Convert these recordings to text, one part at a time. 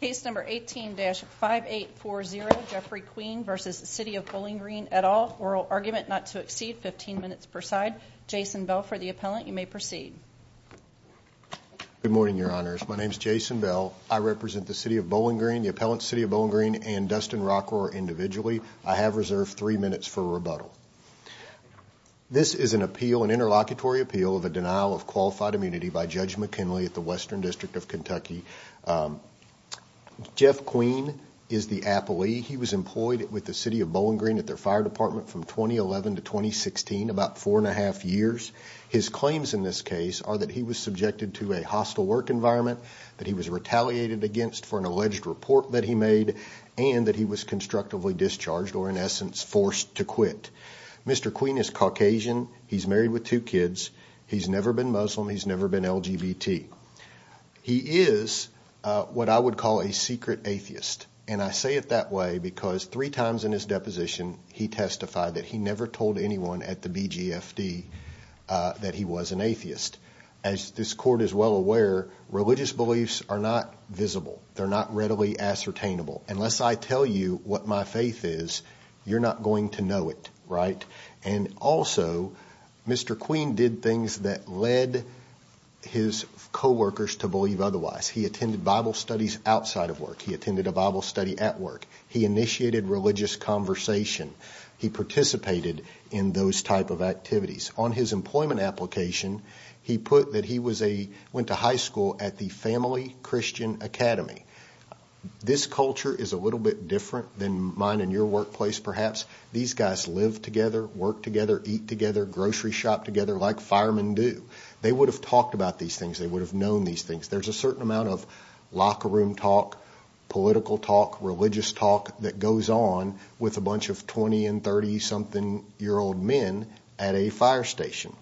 Case number 18-5840, Jeffrey Queen v. City of Bowling Green, et al., oral argument not to exceed 15 minutes per side. Jason Bell for the appellant. You may proceed. Good morning, Your Honors. My name is Jason Bell. I represent the City of Bowling Green, the appellant's City of Bowling Green, and Dustin Rocker individually. I have reserved three minutes for rebuttal. This is an appeal, an interlocutory appeal, of a denial of qualified immunity by Judge McKinley at the Western District of Kentucky. Jeff Queen is the appellee. He was employed with the City of Bowling Green at their fire department from 2011 to 2016, about four and a half years. His claims in this case are that he was subjected to a hostile work environment, that he was retaliated against for an alleged report that he made, and that he was constructively discharged or, in essence, forced to quit. Mr. Queen is Caucasian. He's married with two kids. He's never been Muslim. He's never been LGBT. He is what I would call a secret atheist, and I say it that way because three times in his deposition, he testified that he never told anyone at the BGFD that he was an atheist. As this court is well aware, religious beliefs are not visible. They're not readily ascertainable. Unless I tell you what my faith is, you're not going to know it, right? And also, Mr. Queen did things that led his co-workers to believe otherwise. He attended Bible studies outside of work. He attended a Bible study at work. He initiated religious conversation. He participated in those type of activities. On his employment application, he put that he went to high school at the Family Christian Academy. This culture is a little bit different than mine in your workplace, perhaps. These guys live together, work together, eat together, grocery shop together like firemen do. They would have talked about these things. They would have known these things. There's a certain amount of locker room talk, political talk, religious talk that goes on with a bunch of 20- and 30-something-year-old men at a fire station.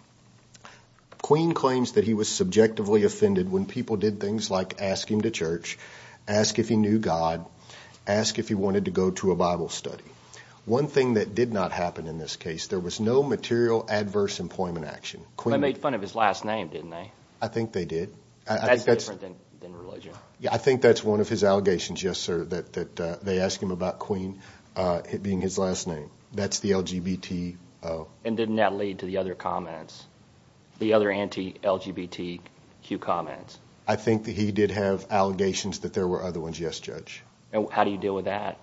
Queen claims that he was subjectively offended when people did things like ask him to church, ask if he knew God, ask if he wanted to go to a Bible study. One thing that did not happen in this case, there was no material adverse employment action. They made fun of his last name, didn't they? I think they did. That's different than religion. I think that's one of his allegations, yes, sir, that they asked him about Queen being his last name. That's the LGBT- And didn't that lead to the other comments, the other anti-LGBTQ comments? I think that he did have allegations that there were other ones, yes, Judge. How do you deal with that?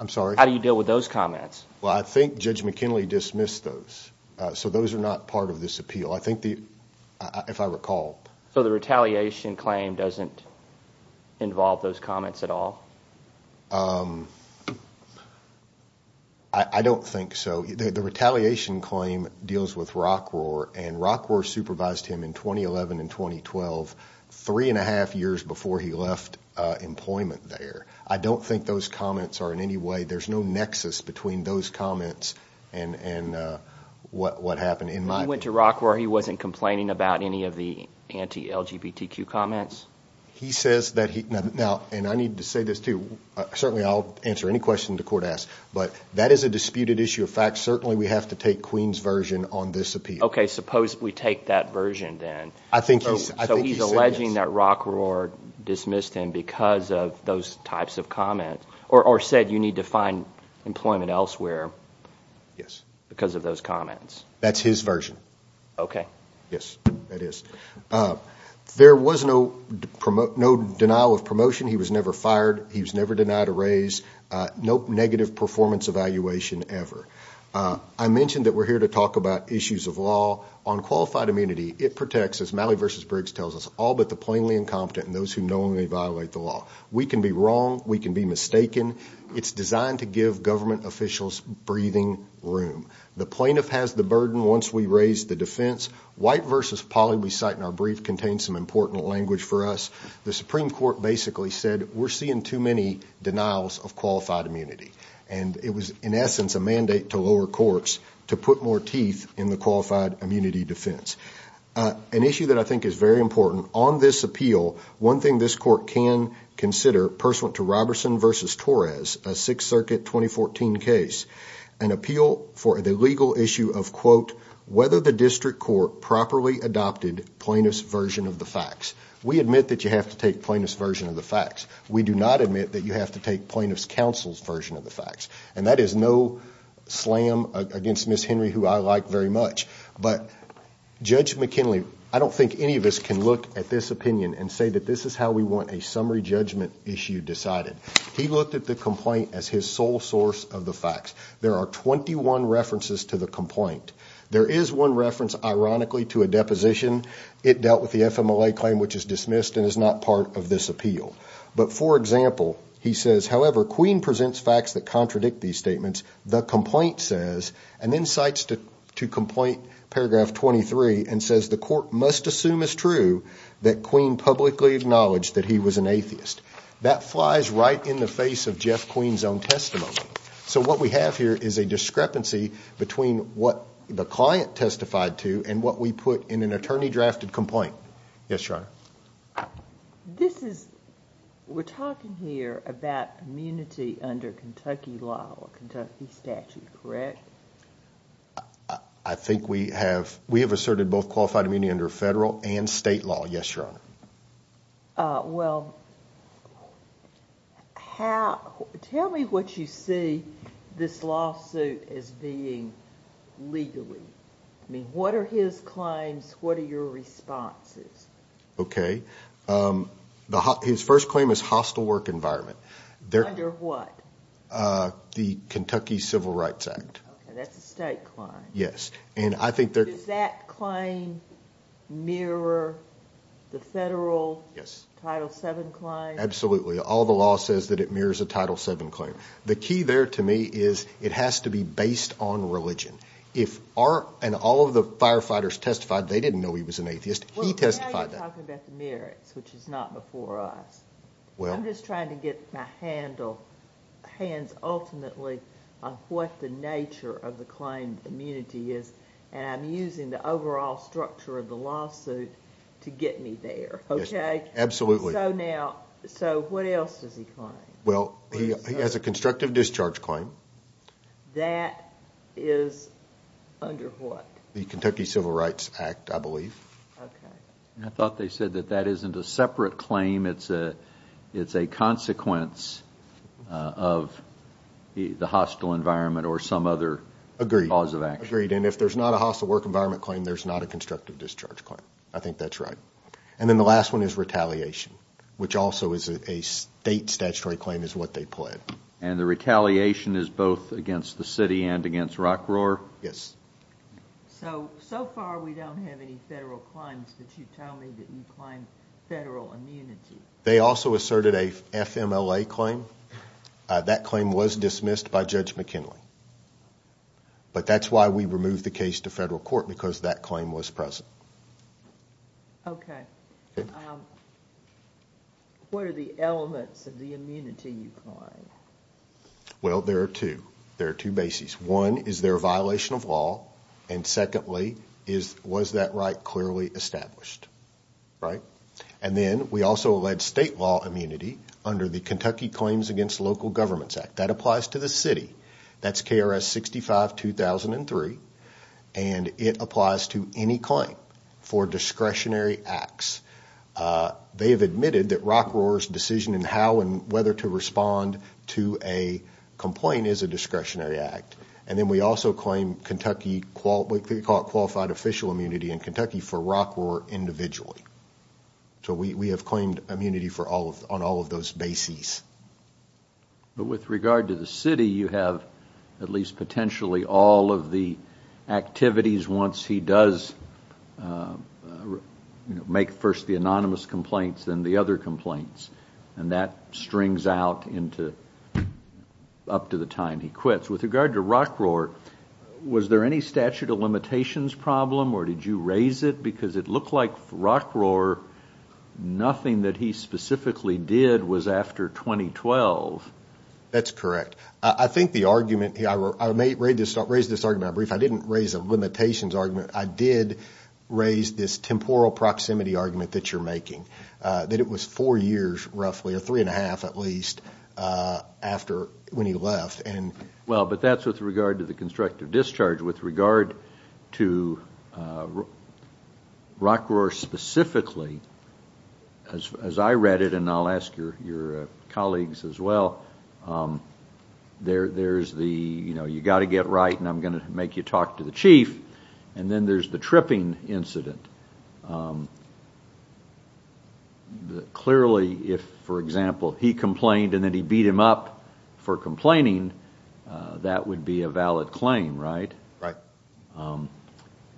I'm sorry? How do you deal with those comments? Well, I think Judge McKinley dismissed those, so those are not part of this appeal. If I recall. So the retaliation claim doesn't involve those comments at all? I don't think so. The retaliation claim deals with Rockroar, and Rockroar supervised him in 2011 and 2012, three-and-a-half years before he left employment there. I don't think those comments are in any way – there's no nexus between those comments and what happened in my opinion. When he went to Rockroar, he wasn't complaining about any of the anti-LGBTQ comments? He says that he – now, and I need to say this too. Certainly I'll answer any question the court asks, but that is a disputed issue of facts. Certainly we have to take Queen's version on this appeal. Okay, suppose we take that version then. I think he said yes. So he's alleging that Rockroar dismissed him because of those types of comments, or said you need to find employment elsewhere because of those comments. That's his version. Okay. Yes, that is. There was no denial of promotion. He was never fired. He was never denied a raise. No negative performance evaluation ever. I mentioned that we're here to talk about issues of law. On qualified immunity, it protects, as Malley v. Briggs tells us, all but the plainly incompetent and those who knowingly violate the law. We can be wrong. We can be mistaken. It's designed to give government officials breathing room. The plaintiff has the burden once we raise the defense. White v. Polley, we cite in our brief, contains some important language for us. The Supreme Court basically said we're seeing too many denials of qualified immunity. And it was, in essence, a mandate to lower courts to put more teeth in the qualified immunity defense. An issue that I think is very important on this appeal, one thing this court can consider, pursuant to Roberson v. Torres, a Sixth Circuit 2014 case, an appeal for the legal issue of, quote, whether the district court properly adopted plaintiff's version of the facts. We admit that you have to take plaintiff's version of the facts. We do not admit that you have to take plaintiff's counsel's version of the facts. And that is no slam against Ms. Henry, who I like very much. But Judge McKinley, I don't think any of us can look at this opinion and say that this is how we want a summary judgment issue decided. He looked at the complaint as his sole source of the facts. There are 21 references to the complaint. There is one reference, ironically, to a deposition. It dealt with the FMLA claim, which is dismissed and is not part of this appeal. But, for example, he says, however, Queen presents facts that contradict these statements. The complaint says, and then cites to complaint paragraph 23 and says, the court must assume as true that Queen publicly acknowledged that he was an atheist. That flies right in the face of Jeff Queen's own testimony. So what we have here is a discrepancy between what the client testified to and what we put in an attorney-drafted complaint. Yes, Your Honor. We're talking here about immunity under Kentucky law or Kentucky statute, correct? I think we have asserted both qualified immunity under federal and state law, yes, Your Honor. Well, tell me what you see this lawsuit as being legally. I mean, what are his claims, what are your responses? Okay. His first claim is hostile work environment. Under what? The Kentucky Civil Rights Act. Okay, that's a state claim. Yes. Does that claim mirror the federal Title VII claim? Absolutely. All the law says that it mirrors a Title VII claim. The key there, to me, is it has to be based on religion. If our and all of the firefighters testified they didn't know he was an atheist, he testified that. Well, now you're talking about the merits, which is not before us. I'm just trying to get my hands ultimately on what the nature of the claim immunity is, and I'm using the overall structure of the lawsuit to get me there, okay? Yes, absolutely. So what else does he claim? Well, he has a constructive discharge claim. That is under what? The Kentucky Civil Rights Act, I believe. Okay. I thought they said that that isn't a separate claim, it's a consequence of the hostile environment or some other cause of action. Agreed. And if there's not a hostile work environment claim, there's not a constructive discharge claim. I think that's right. And then the last one is retaliation, which also is a state statutory claim, is what they pled. And the retaliation is both against the city and against Rock Roar? Yes. So, so far we don't have any federal claims, but you tell me that you claim federal immunity. They also asserted a FMLA claim. That claim was dismissed by Judge McKinley. But that's why we removed the case to federal court, because that claim was present. Okay. What are the elements of the immunity you claim? Well, there are two. There are two bases. One is their violation of law, and secondly, was that right clearly established? Right? And then we also allege state law immunity under the Kentucky Claims Against Local Governments Act. That applies to the city. That's KRS 65-2003. And it applies to any claim for discretionary acts. They have admitted that Rock Roar's decision in how and whether to respond to a complaint is a discretionary act. And then we also claim Kentucky qualified official immunity in Kentucky for Rock Roar individually. So we have claimed immunity on all of those bases. But with regard to the city, you have at least potentially all of the activities once he does make first the anonymous complaints and the other complaints, and that strings out up to the time he quits. With regard to Rock Roar, was there any statute of limitations problem, or did you raise it? Because it looked like Rock Roar, nothing that he specifically did was after 2012. That's correct. I think the argument, I raised this argument in my brief. I didn't raise a limitations argument. I did raise this temporal proximity argument that you're making, that it was four years roughly, or three and a half at least, after when he left. Well, but that's with regard to the constructive discharge. With regard to Rock Roar specifically, as I read it, and I'll ask your colleagues as well, there's the, you know, you've got to get right and I'm going to make you talk to the chief, and then there's the tripping incident. Clearly, if, for example, he complained and then he beat him up for complaining, that would be a valid claim, right? Right.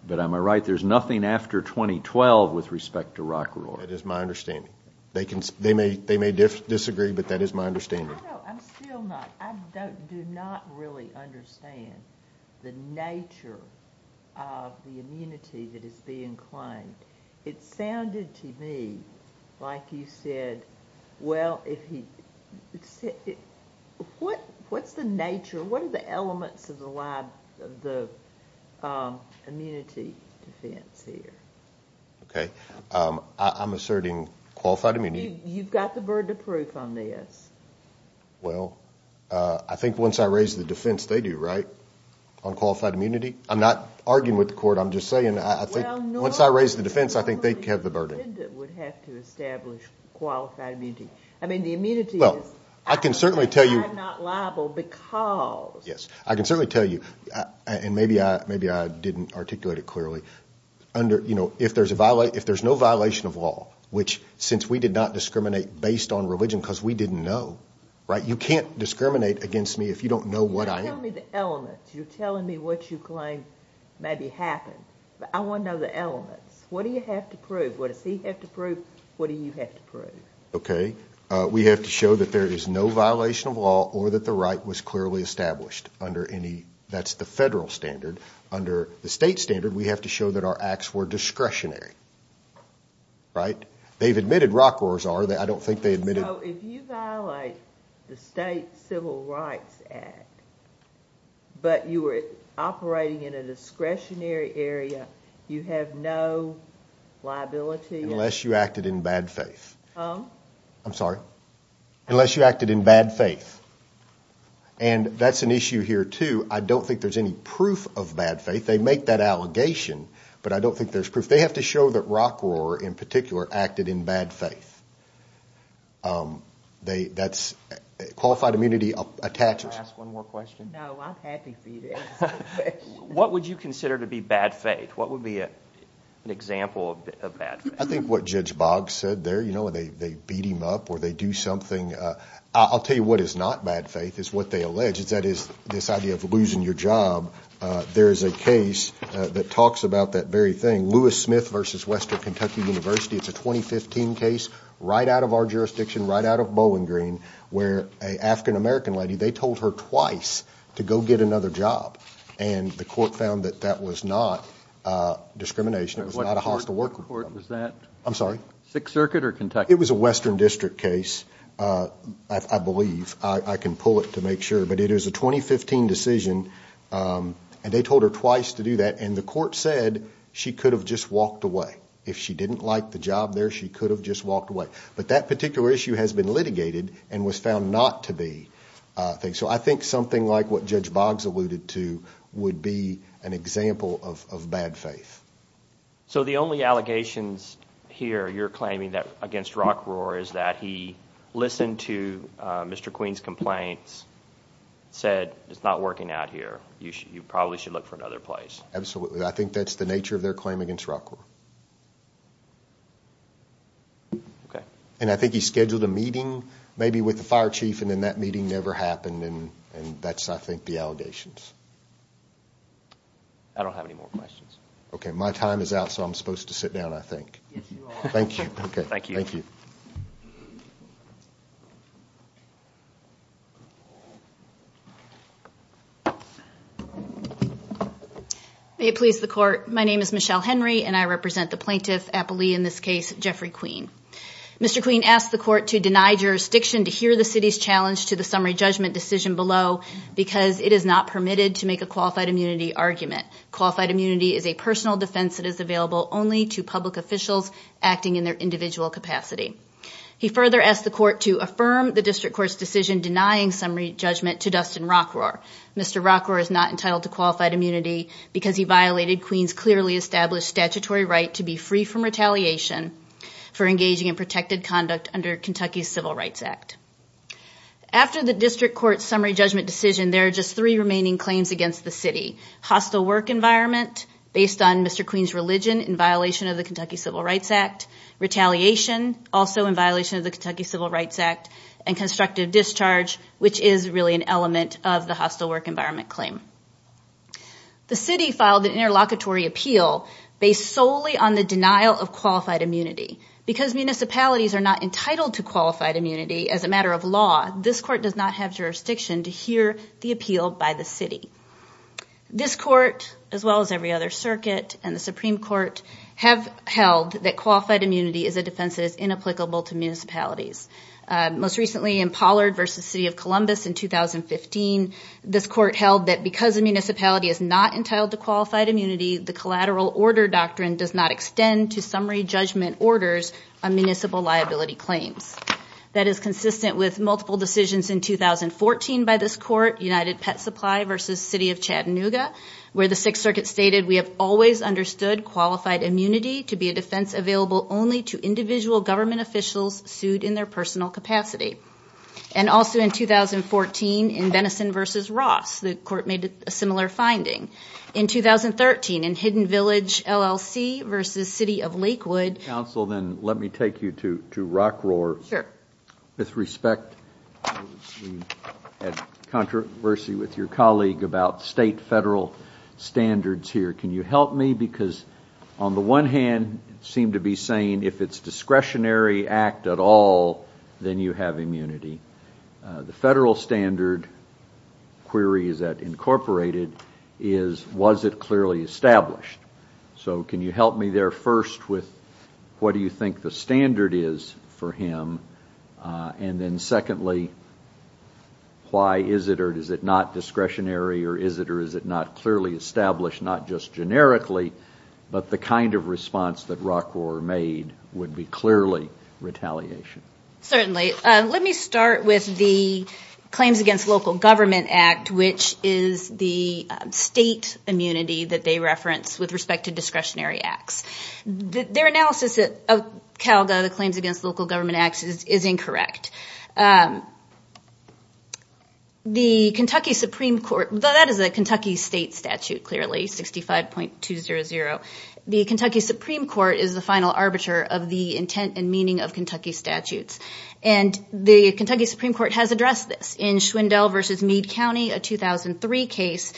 But am I right, there's nothing after 2012 with respect to Rock Roar? That is my understanding. No, no, I'm still not. I do not really understand the nature of the immunity that is being claimed. It sounded to me like you said, well, what's the nature, what are the elements of the immunity defense here? Okay. I'm asserting qualified immunity. You've got the burden of proof on this. Well, I think once I raise the defense, they do, right, on qualified immunity? I'm not arguing with the court. I'm just saying I think once I raise the defense, I think they have the burden. The defendant would have to establish qualified immunity. I mean, the immunity is, I'm not liable because. Yes, I can certainly tell you, and maybe I didn't articulate it clearly, if there's no violation of law, which since we did not discriminate based on religion because we didn't know, right, you can't discriminate against me if you don't know what I am. You're telling me the elements. You're telling me what you claim maybe happened. I want to know the elements. What do you have to prove? What does he have to prove? What do you have to prove? Okay. We have to show that there is no violation of law or that the right was clearly established under any, that's the federal standard. Under the state standard, we have to show that our acts were discretionary, right? They've admitted rock wars are. I don't think they admitted. So if you violate the State Civil Rights Act, but you were operating in a discretionary area, you have no liability? Unless you acted in bad faith. I'm sorry? Unless you acted in bad faith. And that's an issue here, too. I don't think there's any proof of bad faith. They make that allegation, but I don't think there's proof. They have to show that rock war in particular acted in bad faith. Qualified immunity attaches. Can I ask one more question? No, I'm happy for you. What would you consider to be bad faith? What would be an example of bad faith? I think what Judge Boggs said there, you know, they beat him up or they do something. I'll tell you what is not bad faith is what they allege. That is this idea of losing your job. There is a case that talks about that very thing, Lewis Smith v. Western Kentucky University. It's a 2015 case right out of our jurisdiction, right out of Bowling Green, where an African-American lady, they told her twice to go get another job, and the court found that that was not discrimination. It was not a hostile work group. What court was that? I'm sorry? Sixth Circuit or Kentucky? It was a Western District case, I believe. I can pull it to make sure, but it is a 2015 decision, and they told her twice to do that, and the court said she could have just walked away. If she didn't like the job there, she could have just walked away. But that particular issue has been litigated and was found not to be. So I think something like what Judge Boggs alluded to would be an example of bad faith. So the only allegations here you're claiming against Rockroar is that he listened to Mr. Queen's complaints, said it's not working out here. You probably should look for another place. Absolutely. I think that's the nature of their claim against Rockroar. And I think he scheduled a meeting, maybe with the fire chief, and then that meeting never happened, and that's, I think, the allegations. I don't have any more questions. Okay. My time is out, so I'm supposed to sit down, I think. Yes, you are. Thank you. Thank you. May it please the Court, my name is Michelle Henry, and I represent the plaintiff, appellee in this case, Jeffrey Queen. Mr. Queen asked the Court to deny jurisdiction to hear the city's challenge to the summary judgment decision below because it is not permitted to make a qualified immunity argument. Qualified immunity is a personal defense that is available only to public officials acting in their individual capacity. He further asked the Court to affirm the district court's decision denying summary judgment to Dustin Rockroar. Mr. Rockroar is not entitled to qualified immunity because he violated Queen's clearly established statutory right to be free from retaliation for engaging in protected conduct under Kentucky's Civil Rights Act. After the district court's summary judgment decision, there are just three remaining claims against the city. Hostile work environment based on Mr. Queen's religion in violation of the Kentucky Civil Rights Act, retaliation also in violation of the Kentucky Civil Rights Act, and constructive discharge, which is really an element of the hostile work environment claim. The city filed an interlocutory appeal based solely on the denial of qualified immunity. Because municipalities are not entitled to qualified immunity as a matter of law, this court does not have jurisdiction to hear the appeal by the city. This court, as well as every other circuit and the Supreme Court, have held that qualified immunity is a defense that is inapplicable to municipalities. Most recently in Pollard v. City of Columbus in 2015, this court held that because a municipality is not entitled to qualified immunity, the collateral order doctrine does not extend to summary judgment orders on municipal liability claims. That is consistent with multiple decisions in 2014 by this court, United Pet Supply v. City of Chattanooga, where the Sixth Circuit stated we have always understood qualified immunity to be a defense available only to individual government officials sued in their personal capacity. And also in 2014 in Benison v. Ross, the court made a similar finding. In 2013 in Hidden Village LLC v. City of Lakewood... Counsel, then let me take you to Rock Roar. Sure. With respect, we had controversy with your colleague about state federal standards here. Can you help me? Because on the one hand, it seemed to be saying if it's discretionary act at all, then you have immunity. The federal standard query is that incorporated is was it clearly established? So can you help me there first with what do you think the standard is for him? And then secondly, why is it or is it not discretionary or is it or is it not clearly established, not just generically, but the kind of response that Rock Roar made would be clearly retaliation? Certainly. Let me start with the Claims Against Local Government Act, which is the state immunity that they reference with respect to discretionary acts. Their analysis of CALGA, the Claims Against Local Government Act, is incorrect. The Kentucky Supreme Court... That is a Kentucky state statute, clearly, 65.200. The Kentucky Supreme Court is the final arbiter of the intent and meaning of Kentucky statutes. And the Kentucky Supreme Court has addressed this. In Schwindel v. Meade County, a 2003 case,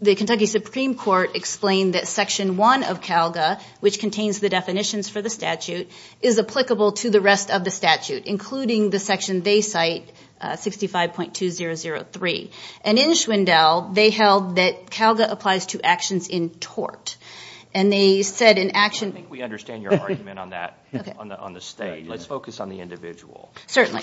the Kentucky Supreme Court explained that Section 1 of CALGA, which contains the definitions for the statute, is applicable to the rest of the statute, including the section they cite, 65.2003. And in Schwindel, they held that CALGA applies to actions in tort. And they said in action... I think we understand your argument on that, on the state. Let's focus on the individual. Certainly.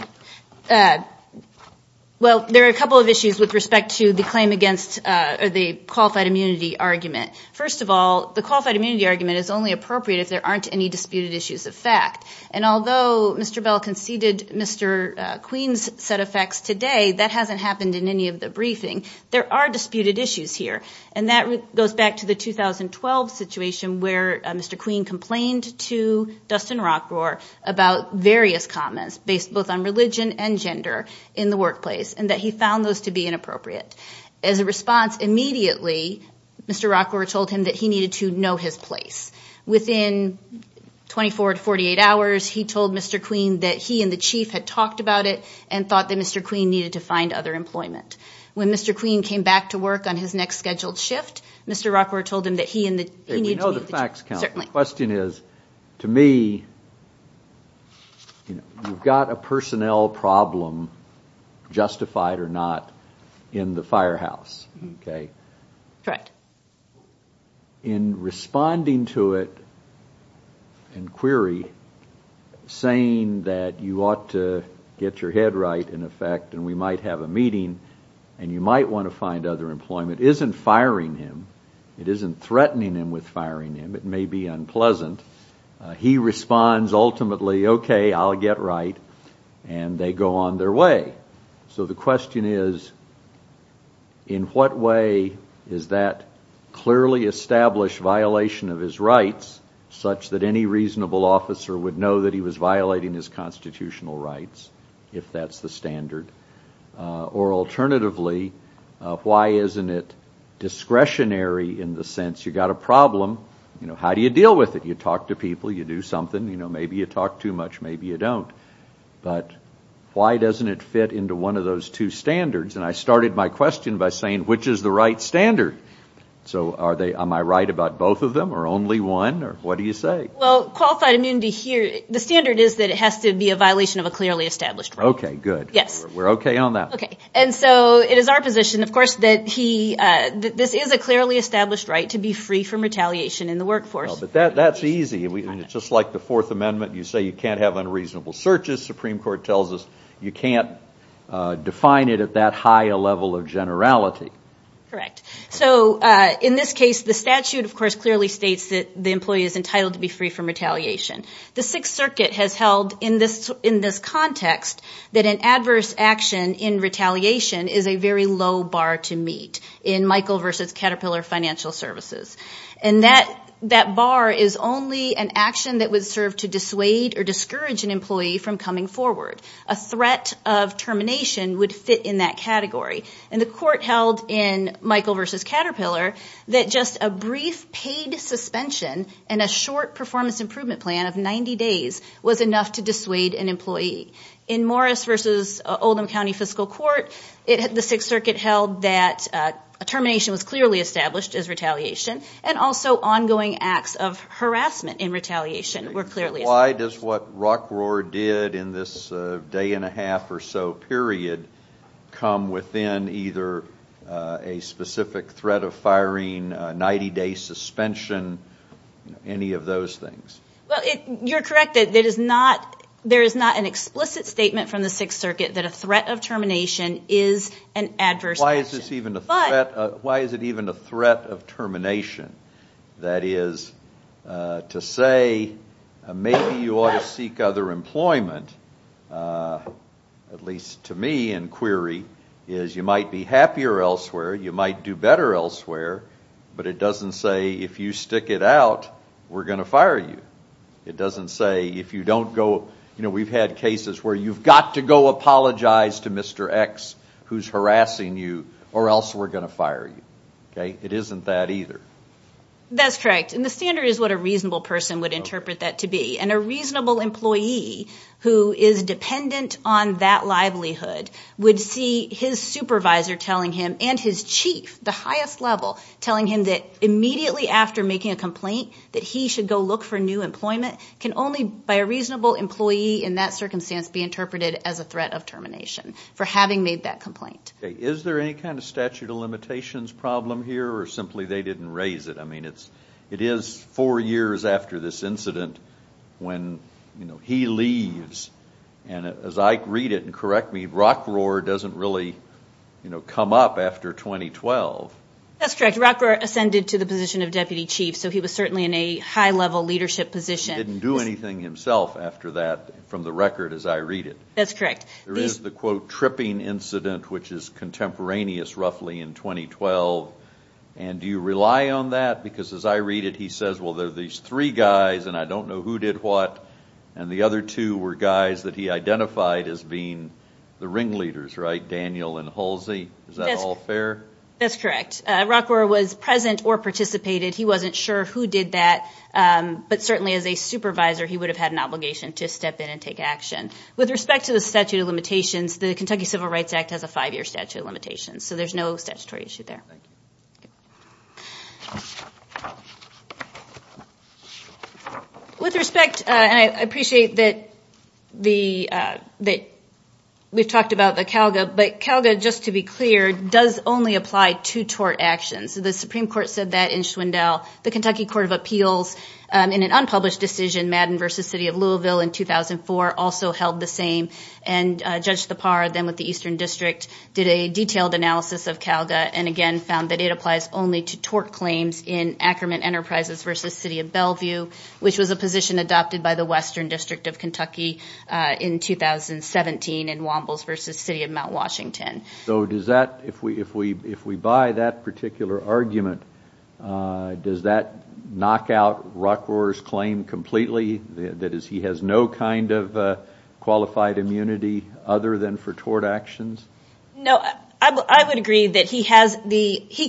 Well, there are a couple of issues with respect to the Claim Against or the Qualified Immunity Argument. First of all, the Qualified Immunity Argument is only appropriate if there aren't any disputed issues of fact. And although Mr. Bell conceded Mr. Queen's set of facts today, that hasn't happened in any of the briefing. There are disputed issues here. And that goes back to the 2012 situation where Mr. Queen complained to Dustin Rockroar about various comments, based both on religion and gender, in the workplace, and that he found those to be inappropriate. As a response, immediately, Mr. Rockroar told him that he needed to know his place. Within 24 to 48 hours, he told Mr. Queen that he and the chief had talked about it and thought that Mr. Queen needed to find other employment. When Mr. Queen came back to work on his next scheduled shift, Mr. Rockroar told him that he needed to meet the chief. The question is, to me, you've got a personnel problem, justified or not, in the firehouse. Correct. In responding to it in query, saying that you ought to get your head right, in effect, and we might have a meeting and you might want to find other employment, isn't firing him. It isn't threatening him with firing him. It may be unpleasant. He responds ultimately, okay, I'll get right, and they go on their way. So the question is, in what way is that clearly established violation of his rights, such that any reasonable officer would know that he was violating his constitutional rights, if that's the standard? Or alternatively, why isn't it discretionary in the sense you've got a problem, how do you deal with it? You talk to people, you do something, maybe you talk too much, maybe you don't. But why doesn't it fit into one of those two standards? And I started my question by saying, which is the right standard? So am I right about both of them, or only one, or what do you say? Well, qualified immunity here, the standard is that it has to be a violation of a clearly established right. Okay, good. Yes. We're okay on that. Okay. And so it is our position, of course, that this is a clearly established right to be free from retaliation in the workforce. But that's easy. It's just like the Fourth Amendment. You say you can't have unreasonable searches. Supreme Court tells us you can't define it at that high a level of generality. Correct. So in this case, the statute, of course, clearly states that the employee is entitled to be free from retaliation. The Sixth Circuit has held in this context that an adverse action in retaliation is a very low bar to meet in Michael v. Caterpillar Financial Services. And that bar is only an action that would serve to dissuade or discourage an employee from coming forward. A threat of termination would fit in that category. And the court held in Michael v. Caterpillar that just a brief paid suspension and a short performance improvement plan of 90 days was enough to dissuade an employee. In Morris v. Oldham County Fiscal Court, the Sixth Circuit held that termination was clearly established as retaliation and also ongoing acts of harassment in retaliation were clearly established. Why does what Rock Rohr did in this day and a half or so period come within either a specific threat of firing, 90-day suspension, any of those things? You're correct. There is not an explicit statement from the Sixth Circuit that a threat of termination is an adverse action. Why is it even a threat of termination? That is to say maybe you ought to seek other employment, at least to me in query, is you might be happier elsewhere, you might do better elsewhere, but it doesn't say if you stick it out, we're going to fire you. It doesn't say if you don't go, you know, we've had cases where you've got to go apologize to Mr. X who's harassing you or else we're going to fire you. It isn't that either. That's correct. And the standard is what a reasonable person would interpret that to be. And a reasonable employee who is dependent on that livelihood would see his supervisor telling him and his chief, the highest level, telling him that immediately after making a complaint that he should go look for new employment can only by a reasonable employee in that circumstance be interpreted as a threat of termination for having made that complaint. Okay. Is there any kind of statute of limitations problem here or simply they didn't raise it? I mean, it is four years after this incident when, you know, he leaves. And as I read it, and correct me, Rockroar doesn't really, you know, come up after 2012. That's correct. Rockroar ascended to the position of deputy chief, so he was certainly in a high-level leadership position. He didn't do anything himself after that from the record as I read it. That's correct. There is the, quote, tripping incident, which is contemporaneous roughly in 2012. And do you rely on that? Because as I read it, he says, well, there are these three guys, and I don't know who did what. And the other two were guys that he identified as being the ringleaders, right, Daniel and Halsey. Is that all fair? That's correct. Rockroar was present or participated. He wasn't sure who did that. But certainly as a supervisor, he would have had an obligation to step in and take action. With respect to the statute of limitations, the Kentucky Civil Rights Act has a five-year statute of limitations, so there's no statutory issue there. With respect, and I appreciate that we've talked about the CALGA, but CALGA, just to be clear, does only apply to tort actions. The Supreme Court said that in Swindell. The Kentucky Court of Appeals in an unpublished decision, Madden v. City of Louisville in 2004, also held the same, and Judge Thapar, then with the Eastern District, did a detailed analysis of CALGA and again found that it applies only to tort claims in Ackerman Enterprises v. City of Bellevue, which was a position adopted by the Western District of Kentucky in 2017 in Wombles v. City of Mount Washington. So does that, if we buy that particular argument, does that knock out Rockroar's claim completely, that is he has no kind of qualified immunity other than for tort actions? No. I would agree that he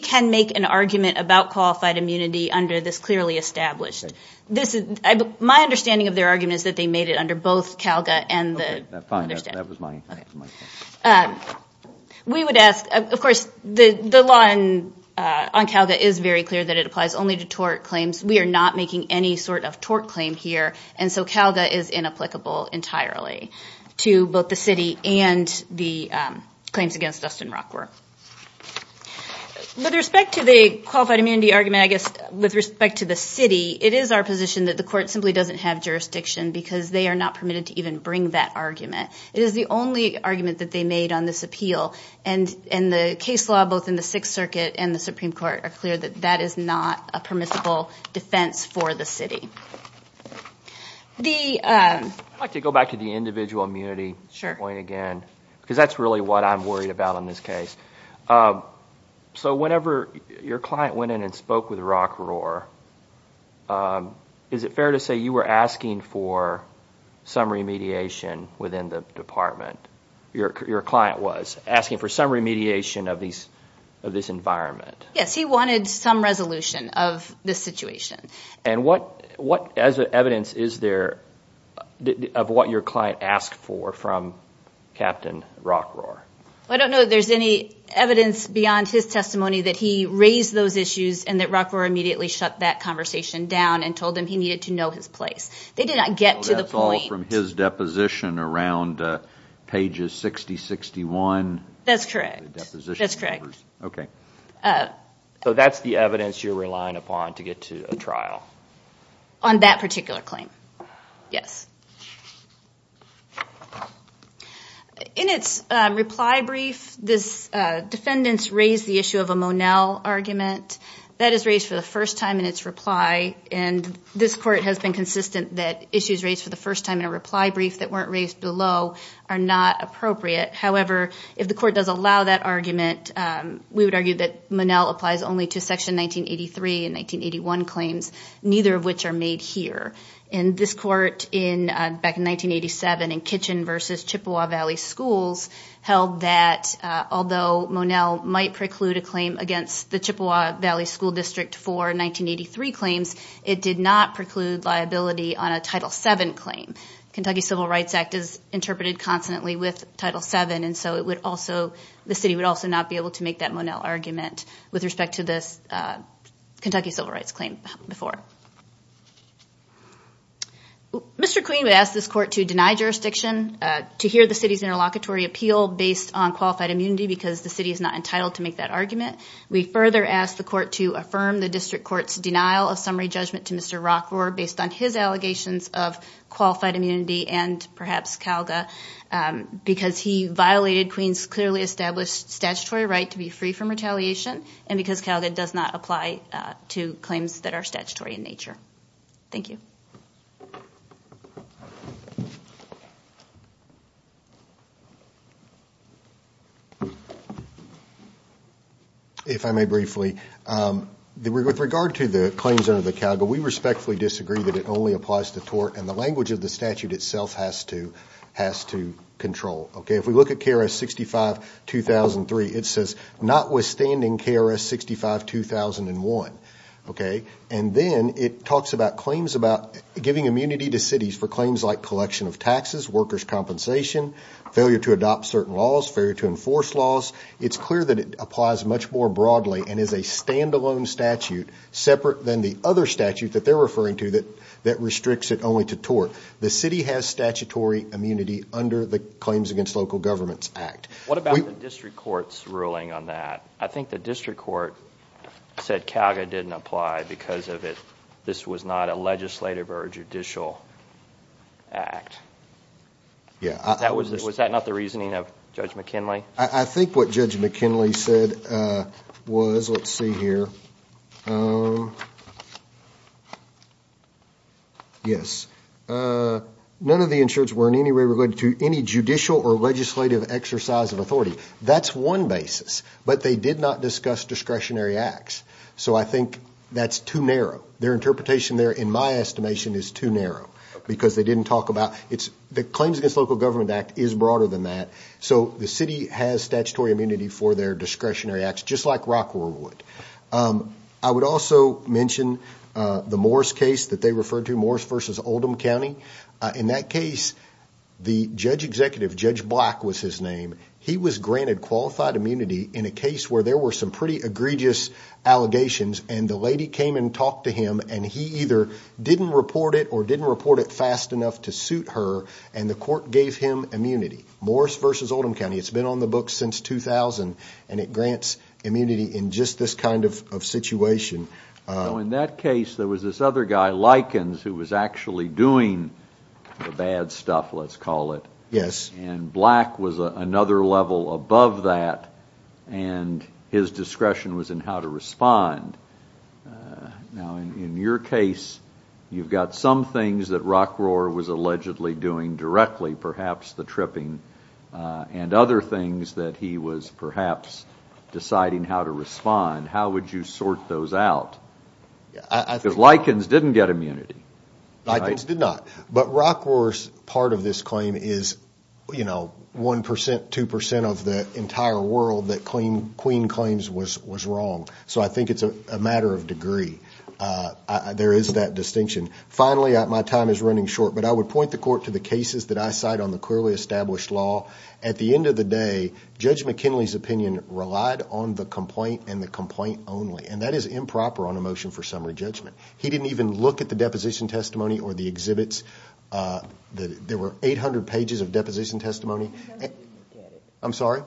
can make an argument about qualified immunity under this clearly established. My understanding of their argument is that they made it under both CALGA and the- Okay, fine. That was my point. We would ask, of course, the law on CALGA is very clear that it applies only to tort claims. We are not making any sort of tort claim here, and so CALGA is inapplicable entirely to both the city and the claims against Dustin Rockroar. With respect to the qualified immunity argument, I guess with respect to the city, it is our position that the court simply doesn't have jurisdiction because they are not permitted to even bring that argument. It is the only argument that they made on this appeal, and the case law, both in the Sixth Circuit and the Supreme Court, are clear that that is not a permissible defense for the city. I'd like to go back to the individual immunity point again because that's really what I'm worried about in this case. So whenever your client went in and spoke with Rockroar, is it fair to say you were asking for some remediation within the department, your client was asking for some remediation of this environment? Yes, he wanted some resolution of this situation. And what evidence is there of what your client asked for from Captain Rockroar? I don't know that there's any evidence beyond his testimony that he raised those issues and that Rockroar immediately shut that conversation down and told him he needed to know his place. They did not get to the point. So that's from his deposition around pages 60, 61? That's correct. That's correct. Okay. So that's the evidence you're relying upon to get to a trial? On that particular claim, yes. In its reply brief, this defendant's raised the issue of a Monell argument. That is raised for the first time in its reply, and this Court has been consistent that issues raised for the first time in a reply brief that weren't raised below are not appropriate. However, if the Court does allow that argument, we would argue that Monell applies only to Section 1983 and 1981 claims, neither of which are made here. And this Court, back in 1987, in Kitchen v. Chippewa Valley Schools, held that although Monell might preclude a claim against the Chippewa Valley School District for 1983 claims, it did not preclude liability on a Title VII claim. The Kentucky Civil Rights Act is interpreted constantly with Title VII, and so the city would also not be able to make that Monell argument with respect to this Kentucky Civil Rights claim before. Mr. Queen would ask this Court to deny jurisdiction, to hear the city's interlocutory appeal based on qualified immunity because the city is not entitled to make that argument. We further ask the Court to affirm the District Court's denial of summary judgment to Mr. Rockvor based on his allegations of qualified immunity and perhaps Calga because he violated Queen's clearly established statutory right to be free from retaliation and because Calga does not apply to claims that are statutory in nature. Thank you. If I may briefly, with regard to the claims under the Calga, we respectfully disagree that it only applies to tort, and the language of the statute itself has to control. If we look at KRS 65-2003, it says notwithstanding KRS 65-2001. And then it talks about giving immunity to cities for claims like collection of taxes, workers' compensation, failure to adopt certain laws, failure to enforce laws. It's clear that it applies much more broadly and is a stand-alone statute separate than the other statute that they're referring to that restricts it only to tort. The city has statutory immunity under the Claims Against Local Governments Act. What about the District Court's ruling on that? I think the District Court said Calga didn't apply because of it. This was not a legislative or judicial act. Was that not the reasoning of Judge McKinley? I think what Judge McKinley said was, let's see here. Yes. None of the insurance were in any way related to any judicial or legislative exercise of authority. That's one basis. But they did not discuss discretionary acts. So I think that's too narrow. Their interpretation there, in my estimation, is too narrow because they didn't talk about it. The Claims Against Local Governments Act is broader than that. So the city has statutory immunity for their discretionary acts, just like Rockwell would. I would also mention the Morris case that they referred to, Morris v. Oldham County. In that case, the judge executive, Judge Black was his name, he was granted qualified immunity in a case where there were some pretty egregious allegations, and the lady came and talked to him, and he either didn't report it or didn't report it fast enough to suit her, and the court gave him immunity. Morris v. Oldham County, it's been on the books since 2000, and it grants immunity in just this kind of situation. So in that case, there was this other guy, Likens, who was actually doing the bad stuff, let's call it. Yes. And Black was another level above that, and his discretion was in how to respond. Now, in your case, you've got some things that Rockroar was allegedly doing directly, perhaps the tripping, and other things that he was perhaps deciding how to respond. How would you sort those out? Because Likens didn't get immunity. Likens did not. But Rockroar's part of this claim is 1%, 2% of the entire world that Queen claims was wrong. So I think it's a matter of degree. There is that distinction. Finally, my time is running short, but I would point the court to the cases that I cite on the clearly established law. At the end of the day, Judge McKinley's opinion relied on the complaint and the complaint only, and that is improper on a motion for summary judgment. He didn't even look at the deposition testimony or the exhibits. There were 800 pages of deposition testimony. He doesn't look at it. I'm sorry?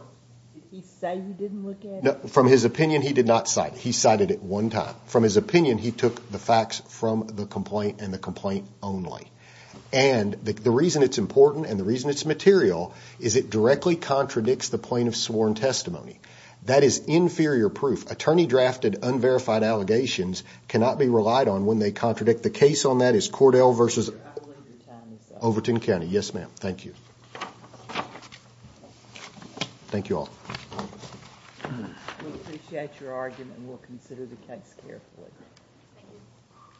Did he say he didn't look at it? No. From his opinion, he did not cite it. He cited it one time. From his opinion, he took the facts from the complaint and the complaint only. And the reason it's important and the reason it's material is it directly contradicts the plaintiff's sworn testimony. That is inferior proof. Attorney-drafted, unverified allegations cannot be relied on when they contradict. The case on that is Cordell v. Overton County. Yes, ma'am. Thank you. Thank you all. We appreciate your argument and we'll consider the case carefully.